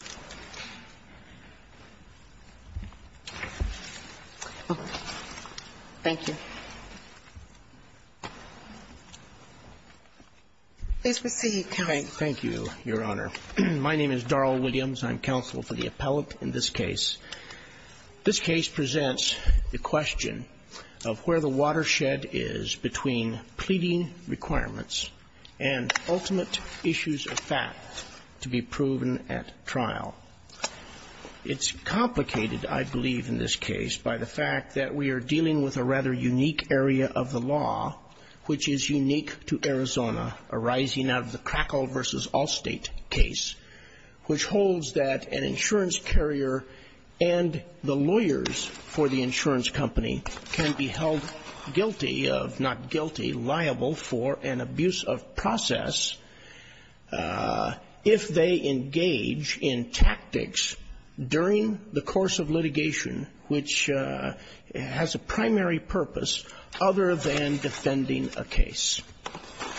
Commission. Thank you. Please proceed, counsel. Thank you, Your Honor. My name is Darrell Williams. I'm counsel for the appellate in this case. This case presents the question of where the watershed is between pleading requirements and ultimate issues of fact to be proven at trial. It's complicated, I believe, in this case by the fact that we are dealing with a rather unique area of the law, which is unique to Arizona, arising out of the Crackle v. Allstate case, which holds that an insurance carrier and the lawyers for the insurance company can be held guilty of, not guilty, liable for an abuse of process if they engage in tactics during the course of litigation which has a primary purpose other than defending a case.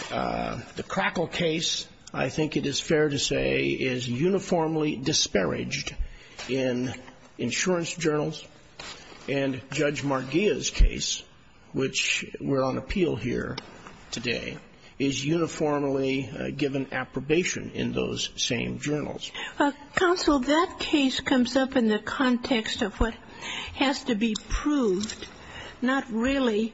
The Crackle case, I think it is fair to say, is uniformly disparaged in insurance journals and Judge Marghia's case, which we're on appeal here today, is uniformly given approbation in those same journals. Counsel, that case comes up in the context of what has to be proved, not really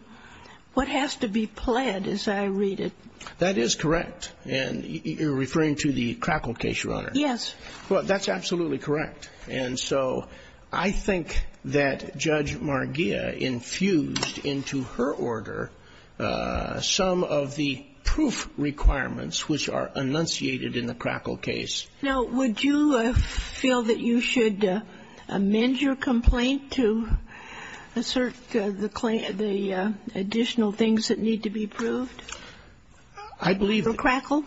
what has to be pled as I read it. That is correct. And you're referring to the Crackle case, Your Honor? Yes. That's absolutely correct. And so I think that Judge Marghia infused into her order some of the proof requirements which are enunciated in the Crackle case. Now, would you feel that you should amend your complaint to assert the additional things that need to be proved for Crackle?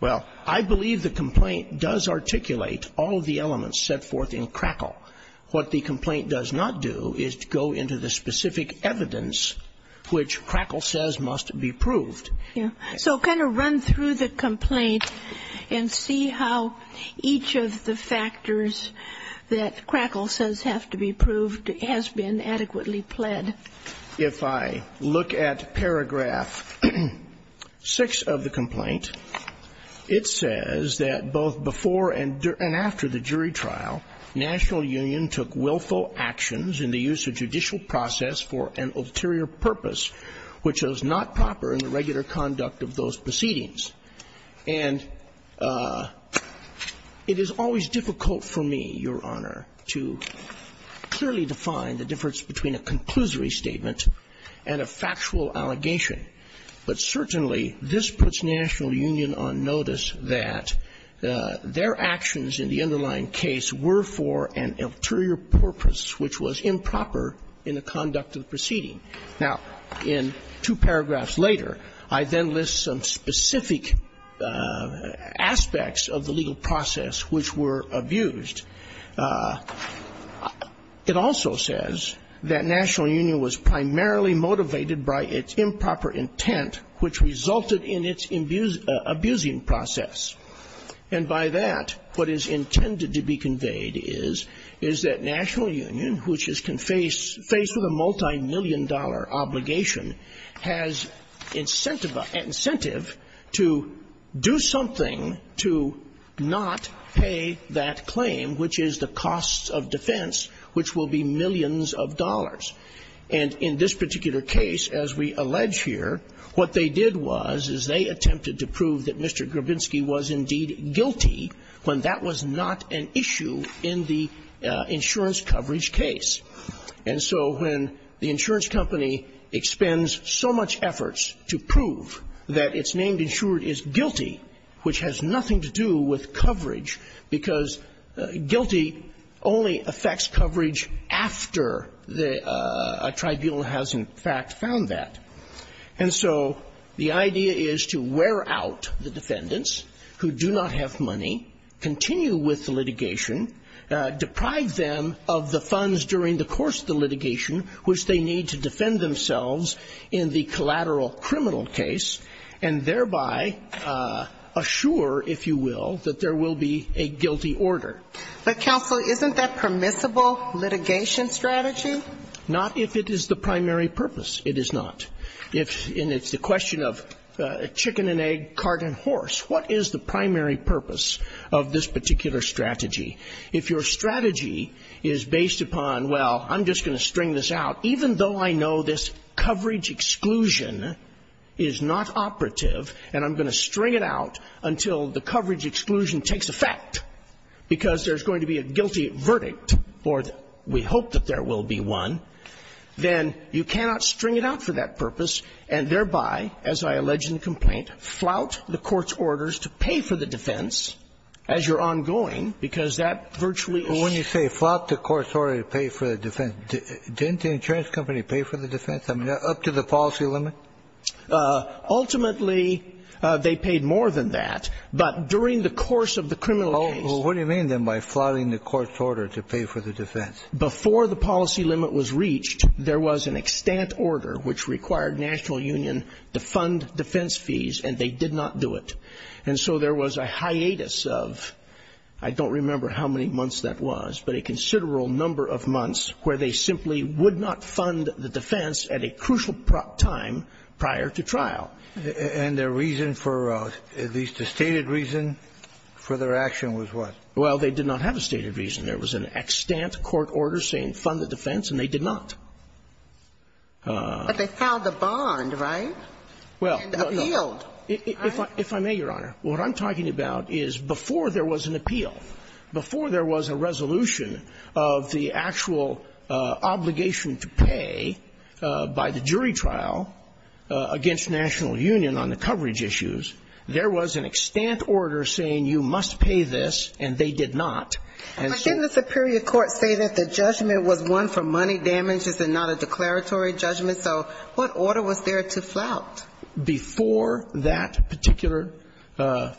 Well, I believe the complaint does articulate all of the elements set forth in Crackle. What the complaint does not do is go into the specific evidence which Crackle says must be proved. So kind of run through the complaint and see how each of the factors that Crackle says have to be proved has been adequately pled. If I look at paragraph 6 of the complaint, it says that both before and after the jury trial, National Union took willful actions in the use of judicial process for an ulterior purpose which was not proper in the regular conduct of those proceedings. And it is always difficult for me, Your Honor, to clearly define the difference between a conclusory statement and a factual allegation. But certainly, this puts National Union on notice that their actions in the underlying case were for an ulterior purpose which was improper in the conduct of the proceeding. Now, in two paragraphs later, I then list some specific aspects of the legal process which were abused. It also says that National Union was primarily motivated by its improper intent which resulted in its abusing process. And by that, what is intended to be conveyed is that National Union, which is faced with a multimillion-dollar obligation, has incentive to do something to not pay that claim, which is the cost of defense, which will be millions of dollars. And in this particular case, as we allege here, what they did was is they attempted to prove that Mr. Grabinski was indeed guilty when that was not an issue in the insurance coverage case. And so when the insurance company expends so much efforts to prove that its named insured is guilty, which has nothing to do with coverage, because guilty only affects coverage after the tribunal has, in fact, found that. And so the idea is to wear out the defendants who do not have money, continue with the litigation, deprive them of the funds during the course of the litigation which they need to defend themselves in the collateral criminal case, and thereby assure, if you will, that there will be a guilty order. But, counsel, isn't that permissible litigation strategy? Not if it is the primary purpose. It is not. If the question of chicken and egg, cart and horse, what is the primary purpose of this particular strategy? If your strategy is based upon, well, I'm just going to string this out, even though I know this coverage exclusion is not operative and I'm going to string it out until the coverage exclusion takes effect because there's going to be a guilty verdict, or we hope that there will be one, then you cannot string it out for that purpose and thereby, as I allege in the complaint, flout the court's orders to pay for the defense as you're ongoing because that virtually is... Well, when you say flout the court's order to pay for the defense, didn't the insurance company pay for the defense? I mean, up to the policy limit? Ultimately, they paid more than that. But during the course of the criminal case... Well, what do you mean then by flouting the court's order to pay for the defense? Before the policy limit was reached, there was an extant order which required National Union to fund defense fees and they did not do it. And so there was a hiatus of, I don't remember how many months that was, but a considerable number of months where they simply would not fund the defense at a crucial time prior to trial. And the reason for, at least the stated reason for their action was what? Well, they did not have a stated reason. There was an extant court order saying fund the defense and they did not. But they filed the bond, right? And appealed. If I may, Your Honor, what I'm talking about is before there was an appeal, before there was a resolution of the actual obligation to pay by the jury trial against National Union on the coverage issues, there was an extant order saying you must pay this and they did not. But didn't the superior court say that the judgment was one for money damages and not a declaratory judgment, so what order was there to flout? Before that particular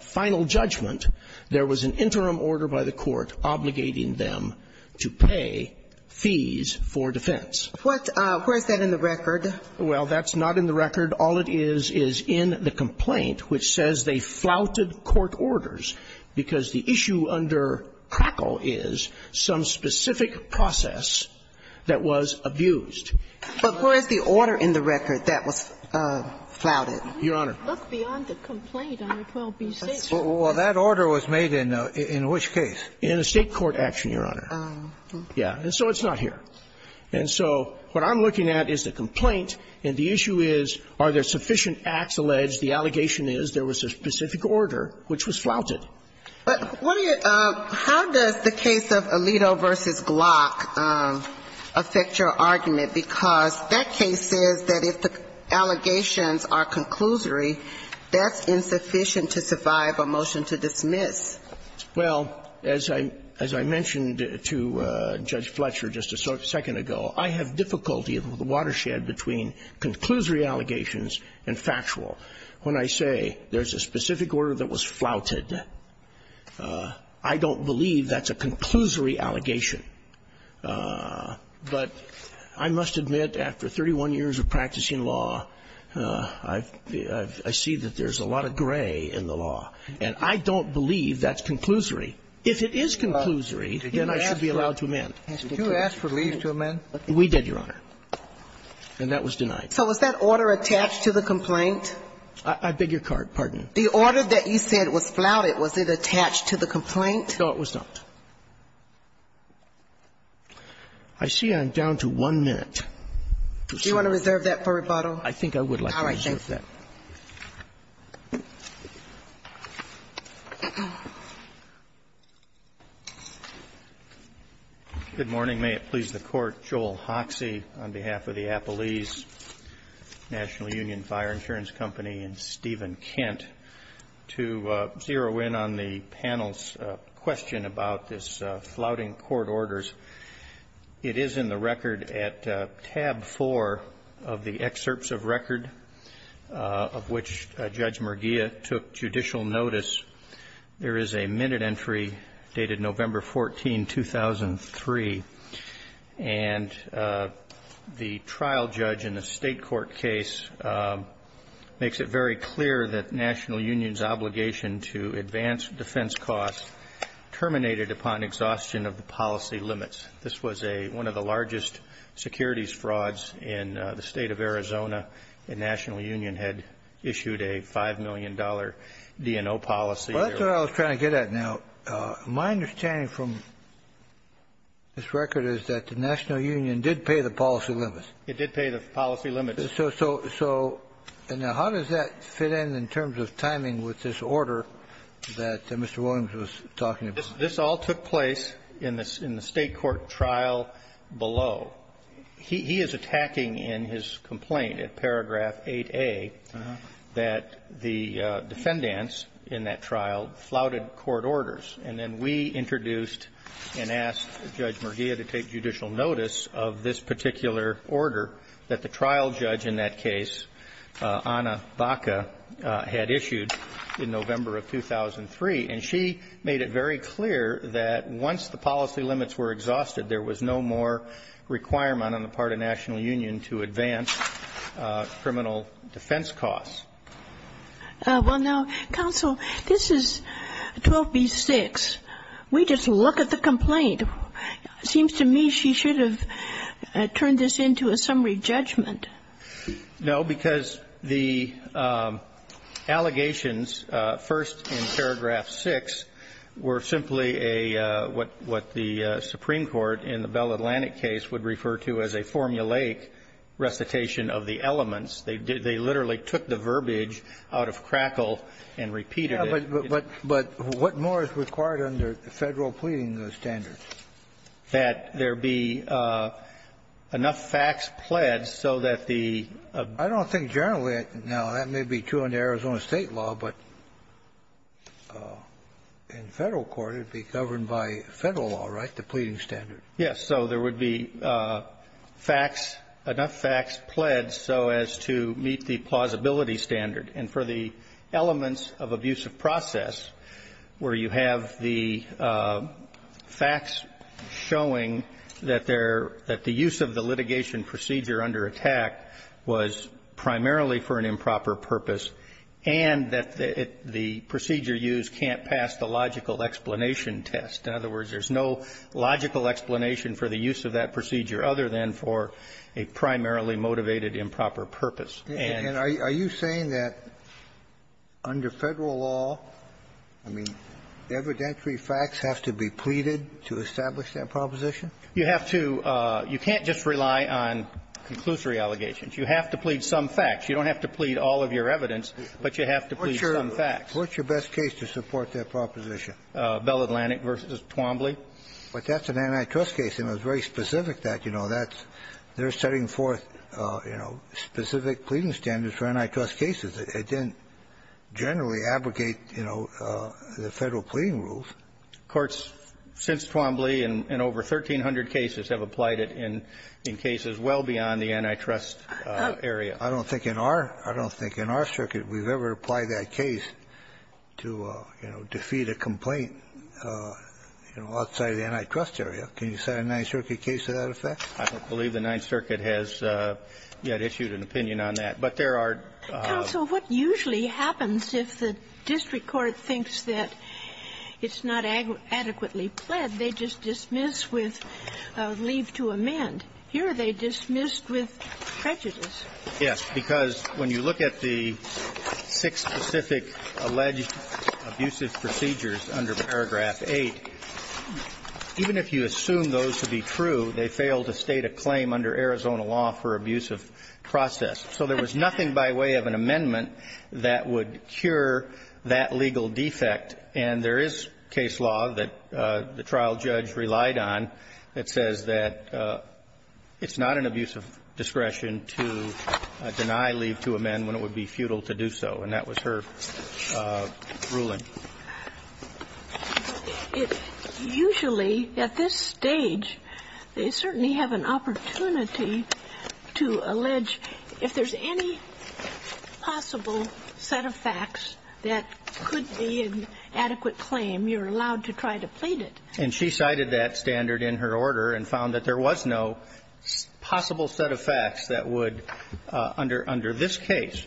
final judgment, there was an interim order by the court obligating them to pay fees for defense. What, where is that in the record? Well, that's not in the record. All it is is in the complaint which says they flouted court orders because the issue under Crackle is some specific process that was abused. But where is the order in the record that was flouted? Your Honor. Look beyond the complaint on 12B6. Well, that order was made in which case? In a state court action, Your Honor. Oh. Yeah. And so it's not here. And so what I'm looking at is the complaint and the issue is are there sufficient acts alleged? The allegation is there was a specific order which was flouted. But how does the case of Alito v. Glock affect your argument? Because that case says that if the allegations are conclusory, that's insufficient to survive a motion to dismiss. Well, as I mentioned to Judge Fletcher just a second ago, I have difficulty with the watershed between conclusory allegations and factual. When I say there's a specific order that was flouted, I don't believe that's a conclusory allegation. But I must admit, after 31 years of practicing law, I see that there's a lot of gray in the law. And I don't believe that's conclusory. If it is conclusory, then I should be allowed to amend. Did you ask for leave to amend? We did, Your Honor. And that was denied. So was that order attached to the complaint? I beg your pardon? The order that you said was flouted, was it attached to the complaint? No, it was not. I see I'm down to one minute. Do you want to reserve that for rebuttal? I think I would like to reserve that. All right. Good morning. May it please the Court. Joel Hoxie on behalf of the Appalese National Union Fire Insurance Company and Steven Kent to zero in on the panel's question about this flouting court orders. It is in the record at tab four of the excerpts of record of which Judge Murgia took judicial notice. There is a minute entry dated November 14, 2003. And the trial judge in the state court case makes it very clear that the National Union's obligation to advance defense costs terminated upon exhaustion of the policy limits. This was one of the largest securities frauds in the State of Arizona. The National Union had issued a $5 million DNO policy. Well, that's what I was trying to get at. Now, my understanding from this record is that the National Union did pay the policy limits. It did pay the policy limits. So now how does that fit in in terms of timing with this order that Mr. Williams was talking about? This all took place in the state court trial below. He is attacking in his complaint. At paragraph 8A, that the defendants in that trial flouted court orders. And then we introduced and asked Judge Murgia to take judicial notice of this particular order that the trial judge in that case, Ana Baca, had issued in November of 2003. And she made it very clear that once the policy limits were exhausted, there was no more requirement on the part of National Union to advance criminal defense costs. Well, now, counsel, this is 12B-6. We just look at the complaint. It seems to me she should have turned this into a summary judgment. No, because the allegations first in paragraph 6 were simply a what the Supreme Court in the Bell Atlantic case would refer to as a formulaic recitation of the elements. They literally took the verbiage out of crackle and repeated it. But what more is required under Federal pleading standards? That there be enough facts pled so that the ---- I don't think generally, now, that may be true under Arizona State law, but in Federal court, it would be governed by Federal law, right, the pleading standard. Yes. So there would be facts, enough facts pled so as to meet the plausibility standard. And for the elements of abusive process where you have the facts showing that there ---- that the use of the litigation procedure under attack was primarily for an improper purpose and that the procedure used can't pass the logical explanation test. In other words, there's no logical explanation for the use of that procedure other than for a primarily motivated improper purpose. And ---- And are you saying that under Federal law, I mean, evidentiary facts have to be pleaded to establish that proposition? You have to ---- you can't just rely on conclusory allegations. You have to plead some facts. You don't have to plead all of your evidence, but you have to plead some facts. What's your best case to support that proposition? Bell Atlantic v. Twombly. But that's an antitrust case, and it was very specific that, you know, that's they're setting forth, you know, specific pleading standards for antitrust cases. It didn't generally abrogate, you know, the Federal pleading rules. Courts since Twombly and over 1,300 cases have applied it in cases well beyond the antitrust area. I don't think in our circuit we've ever applied that case to, you know, defeat a complaint, you know, outside of the antitrust area. Can you cite a Ninth Circuit case to that effect? I don't believe the Ninth Circuit has yet issued an opinion on that. But there are ---- Counsel, what usually happens if the district court thinks that it's not adequately pled, they just dismiss with a leave to amend. Here they dismissed with prejudice. Yes. Because when you look at the six specific alleged abusive procedures under paragraph 8, even if you assume those to be true, they fail to state a claim under Arizona law for abusive process. So there was nothing by way of an amendment that would cure that legal defect. And there is case law that the trial judge relied on that says that it's not an abusive discretion to deny leave to amend when it would be futile to do so. And that was her ruling. Usually, at this stage, they certainly have an opportunity to allege if there's any possible set of facts that could be an adequate claim, you're allowed to try to plead it. And she cited that standard in her order and found that there was no possible set of facts that would, under this case,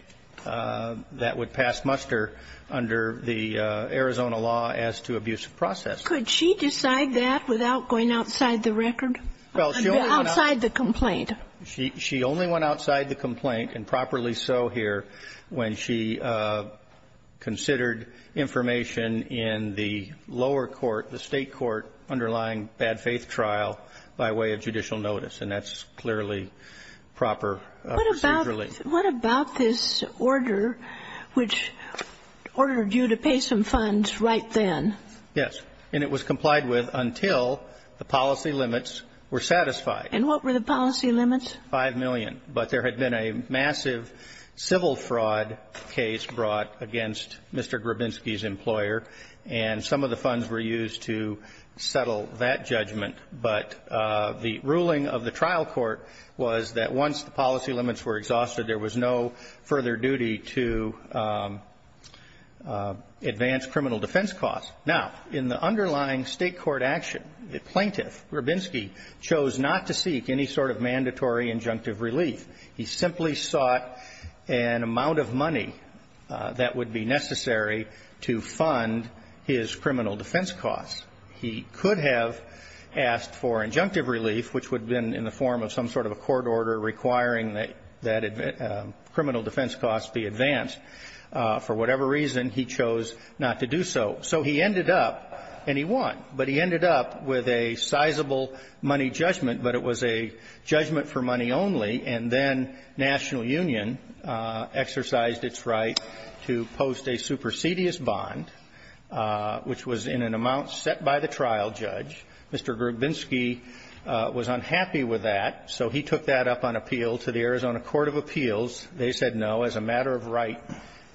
that would pass muster under the Arizona law as to abusive process. Could she decide that without going outside the record? Well, she only went outside the complaint. She only went outside the complaint, and properly so here, when she considered information in the lower court, the State court, underlying bad faith trial by way of judicial notice. And that's clearly proper procedure leave. What about this order which ordered you to pay some funds right then? Yes. And it was complied with until the policy limits were satisfied. And what were the policy limits? Five million. But there had been a massive civil fraud case brought against Mr. Grabinski's employer, and some of the funds were used to settle that judgment. But the ruling of the trial court was that once the policy limits were exhausted, there was no further duty to advance criminal defense costs. Now, in the underlying State court action, the plaintiff, Grabinski, chose not to seek any sort of mandatory injunctive relief. He simply sought an amount of money that would be necessary to fund his criminal defense costs. He could have asked for injunctive relief, which would have been in the form of some sort of a court order requiring that criminal defense costs be advanced. For whatever reason, he chose not to do so. So he ended up, and he won, but he ended up with a sizable money judgment, but it was a judgment for money only. And then National Union exercised its right to post a supersedious bond, which was in an amount set by the trial judge. Mr. Grabinski was unhappy with that, so he took that up on appeal to the Arizona Court of Appeals. They said, no, as a matter of right,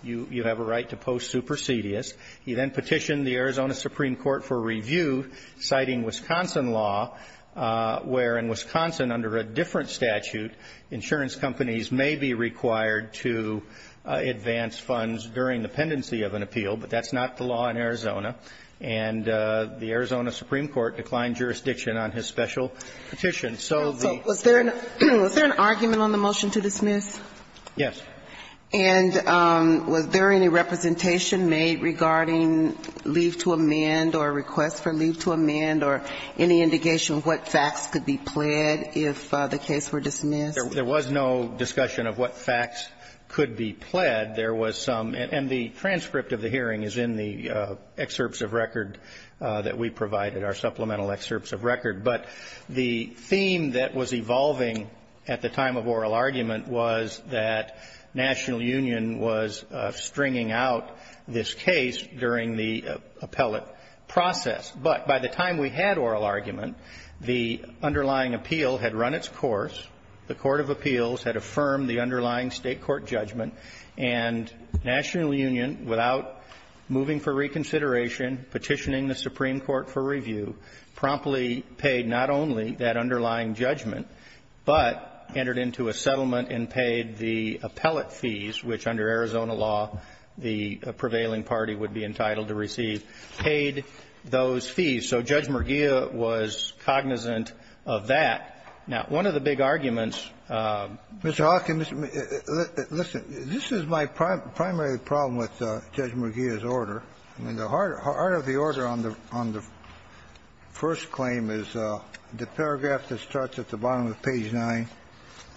you have a right to post supersedious. He then petitioned the Arizona Supreme Court for review, citing Wisconsin law, where in Wisconsin, under a different statute, insurance companies may be required to advance funds during the pendency of an appeal, but that's not the law in Arizona. And the Arizona Supreme Court declined jurisdiction on his special petition. So the ---- So was there an argument on the motion to dismiss? Yes. And was there any representation made regarding leave to amend or request for leave to amend or any indication of what facts could be pled if the case were dismissed? There was no discussion of what facts could be pled. There was some, and the transcript of the hearing is in the excerpts of record that we provided, our supplemental excerpts of record. But the theme that was evolving at the time of oral argument was that National Union was stringing out this case during the appellate process. But by the time we had oral argument, the underlying appeal had run its course, the Court of Appeals had affirmed the underlying State court judgment, and National Union, without moving for reconsideration, petitioning the Supreme Court for review, promptly paid not only that underlying judgment, but entered into a settlement and paid the appellate fees, which under Arizona law the prevailing party would be entitled to receive, paid those fees. So Judge Murgia was cognizant of that. Now, one of the big arguments ---- Mr. Hawkins, listen. This is my primary problem with Judge Murgia's order. I mean, the heart of the order on the first claim is the paragraph that starts at the bottom of page 9,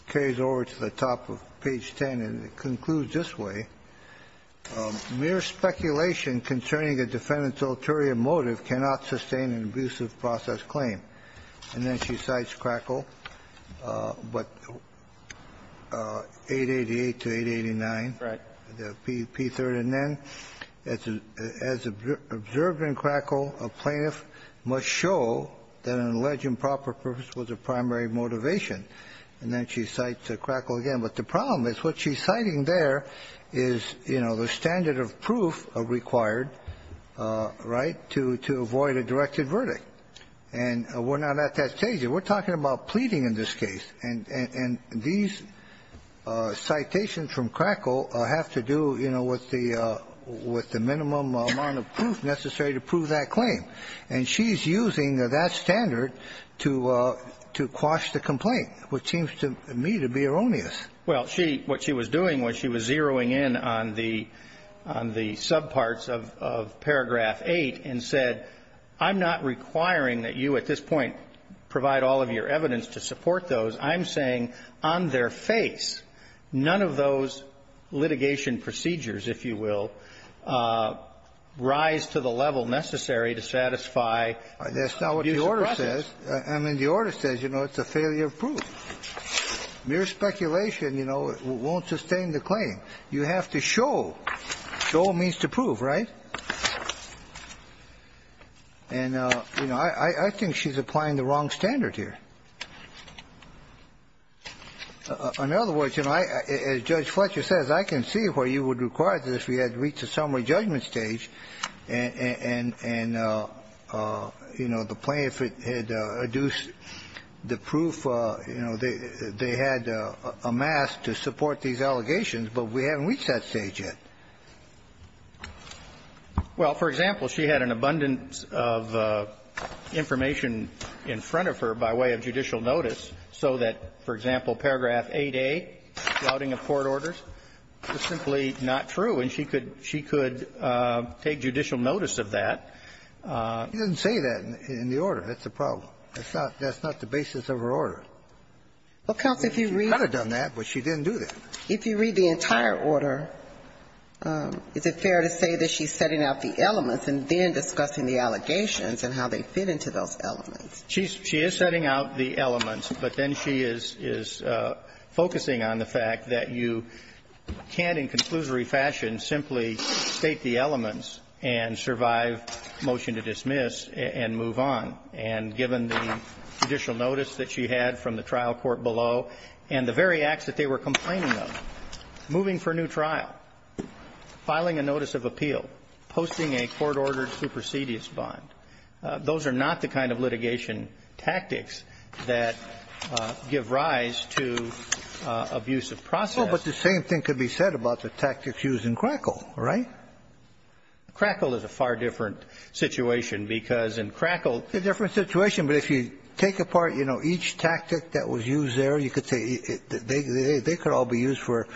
carries over to the top of page 10, and it concludes this way, mere speculation concerning a defendant's ulterior motive cannot sustain an abusive process claim. And then she cites Crackle, but 888 to 889. Right. P3rd and then, as observed in Crackle, a plaintiff must show that an alleged improper purpose was a primary motivation. And then she cites Crackle again. But the problem is what she's citing there is, you know, the standard of proof required, right, to avoid a directed verdict. And we're not at that stage. We're talking about pleading in this case. And these citations from Crackle have to do, you know, with the minimum amount of proof necessary to prove that claim. And she's using that standard to quash the complaint, which seems to me to be erroneous. Well, she ---- what she was doing was she was zeroing in on the subparts of paragraph 8 and said, I'm not requiring that you at this point provide all of your evidence to support those. I'm saying, on their face, none of those litigation procedures, if you will, rise to the level necessary to satisfy the abuse of prejudice. That's not what the order says. I mean, the order says, you know, it's a failure of proof. Mere speculation, you know, won't sustain the claim. You have to show. Show means to prove, right? And, you know, I think she's applying the wrong standard here. In other words, you know, as Judge Fletcher says, I can see where you would require this if we had reached a summary judgment stage and, you know, the plaintiff had adduced the proof, you know, they had amassed to support these allegations, but we haven't reached that stage yet. Well, for example, she had an abundance of information in front of her by way of the judicial notice, so that, for example, paragraph 8A, flouting of court orders, is simply not true, and she could take judicial notice of that. She didn't say that in the order. That's the problem. That's not the basis of her order. Well, counsel, if you read the entire order, is it fair to say that she's setting out the elements and then discussing the allegations and how they fit into those elements? She is setting out the elements, but then she is focusing on the fact that you can't, in conclusory fashion, simply state the elements and survive motion to dismiss and move on. And given the judicial notice that she had from the trial court below and the very acts that they were complaining of, moving for a new trial, filing a notice of appeal, posting a court-ordered supersedious bond, those are not the kind of litigation tactics that give rise to abusive process. Well, but the same thing could be said about the tactics used in Crackle, right? Crackle is a far different situation, because in Crackle ---- It's a different situation, but if you take apart, you know, each tactic that was used there, you could say they could all be used for,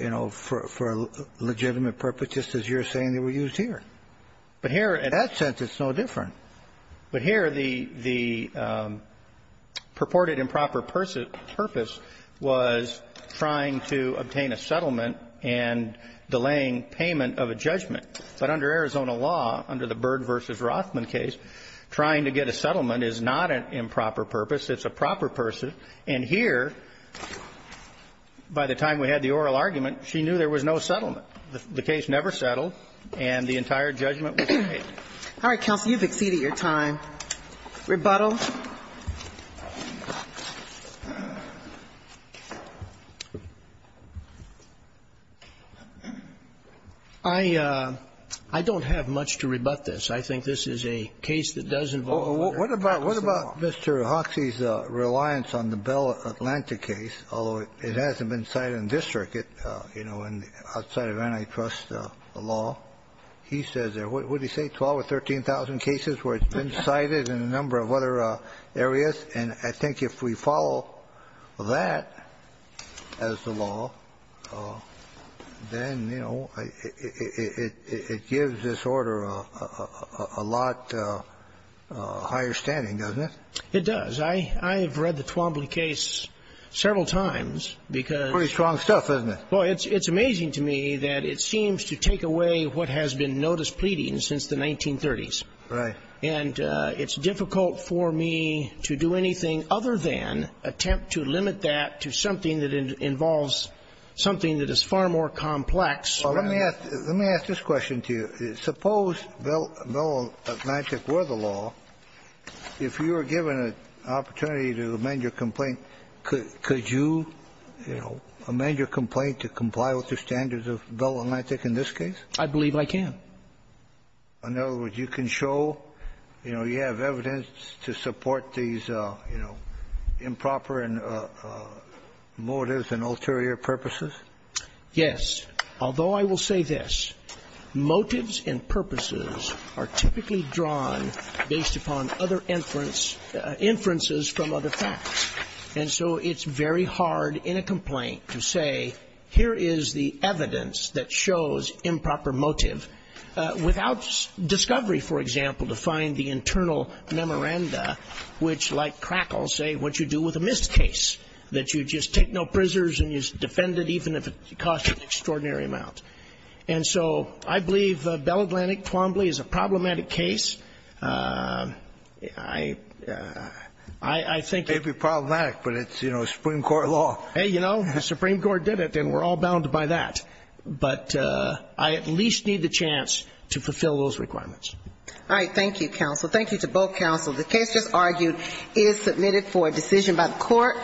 you know, for legitimate purpose, just as you're saying they were used here. But here, in that sense, it's no different. But here, the purported improper purpose was trying to obtain a settlement and delaying payment of a judgment. But under Arizona law, under the Byrd v. Rothman case, trying to get a settlement is not an improper purpose. It's a proper purpose. And here, by the time we had the oral argument, she knew there was no settlement. The case never settled, and the entire judgment was paid. All right. Counsel, you've exceeded your time. Rebuttal. I don't have much to rebut this. I think this is a case that does involve under Arkansas law. What about Mr. Hoxie's reliance on the Bell Atlantic case, although it hasn't been cited in this circuit, you know, outside of antitrust law? He says there were, what did he say, 12 or 13,000 cases where it's been cited in a number of other areas? And I think if we follow that as the law, then, you know, it gives this order a lot higher standing, doesn't it? It does. I have read the Twombly case several times because It's pretty strong stuff, isn't it? Well, it's amazing to me that it seems to take away what has been notice pleading since the 1930s. Right. And it's difficult for me to do anything other than attempt to limit that to something that involves something that is far more complex. Well, let me ask this question to you. Suppose Bell Atlantic were the law. If you were given an opportunity to amend your complaint, could you, you know, amend your complaint to comply with the standards of Bell Atlantic in this case? I believe I can. In other words, you can show, you know, you have evidence to support these, you know, improper motives and ulterior purposes? Yes. Although I will say this. Motives and purposes are typically drawn based upon other inferences from other facts. And so it's very hard in a complaint to say, here is the evidence that shows improper motive. Without discovery, for example, to find the internal memoranda, which like crackles say what you do with a missed case. That you just take no prisoners and you defend it even if it costs an extraordinary amount. And so I believe Bell Atlantic Twombly is a problematic case. It may be problematic, but it's, you know, Supreme Court law. Hey, you know, the Supreme Court did it and we're all bound by that. But I at least need the chance to fulfill those requirements. All right. Thank you, counsel. Thank you to both counsel. The case just argued is submitted for decision by the court.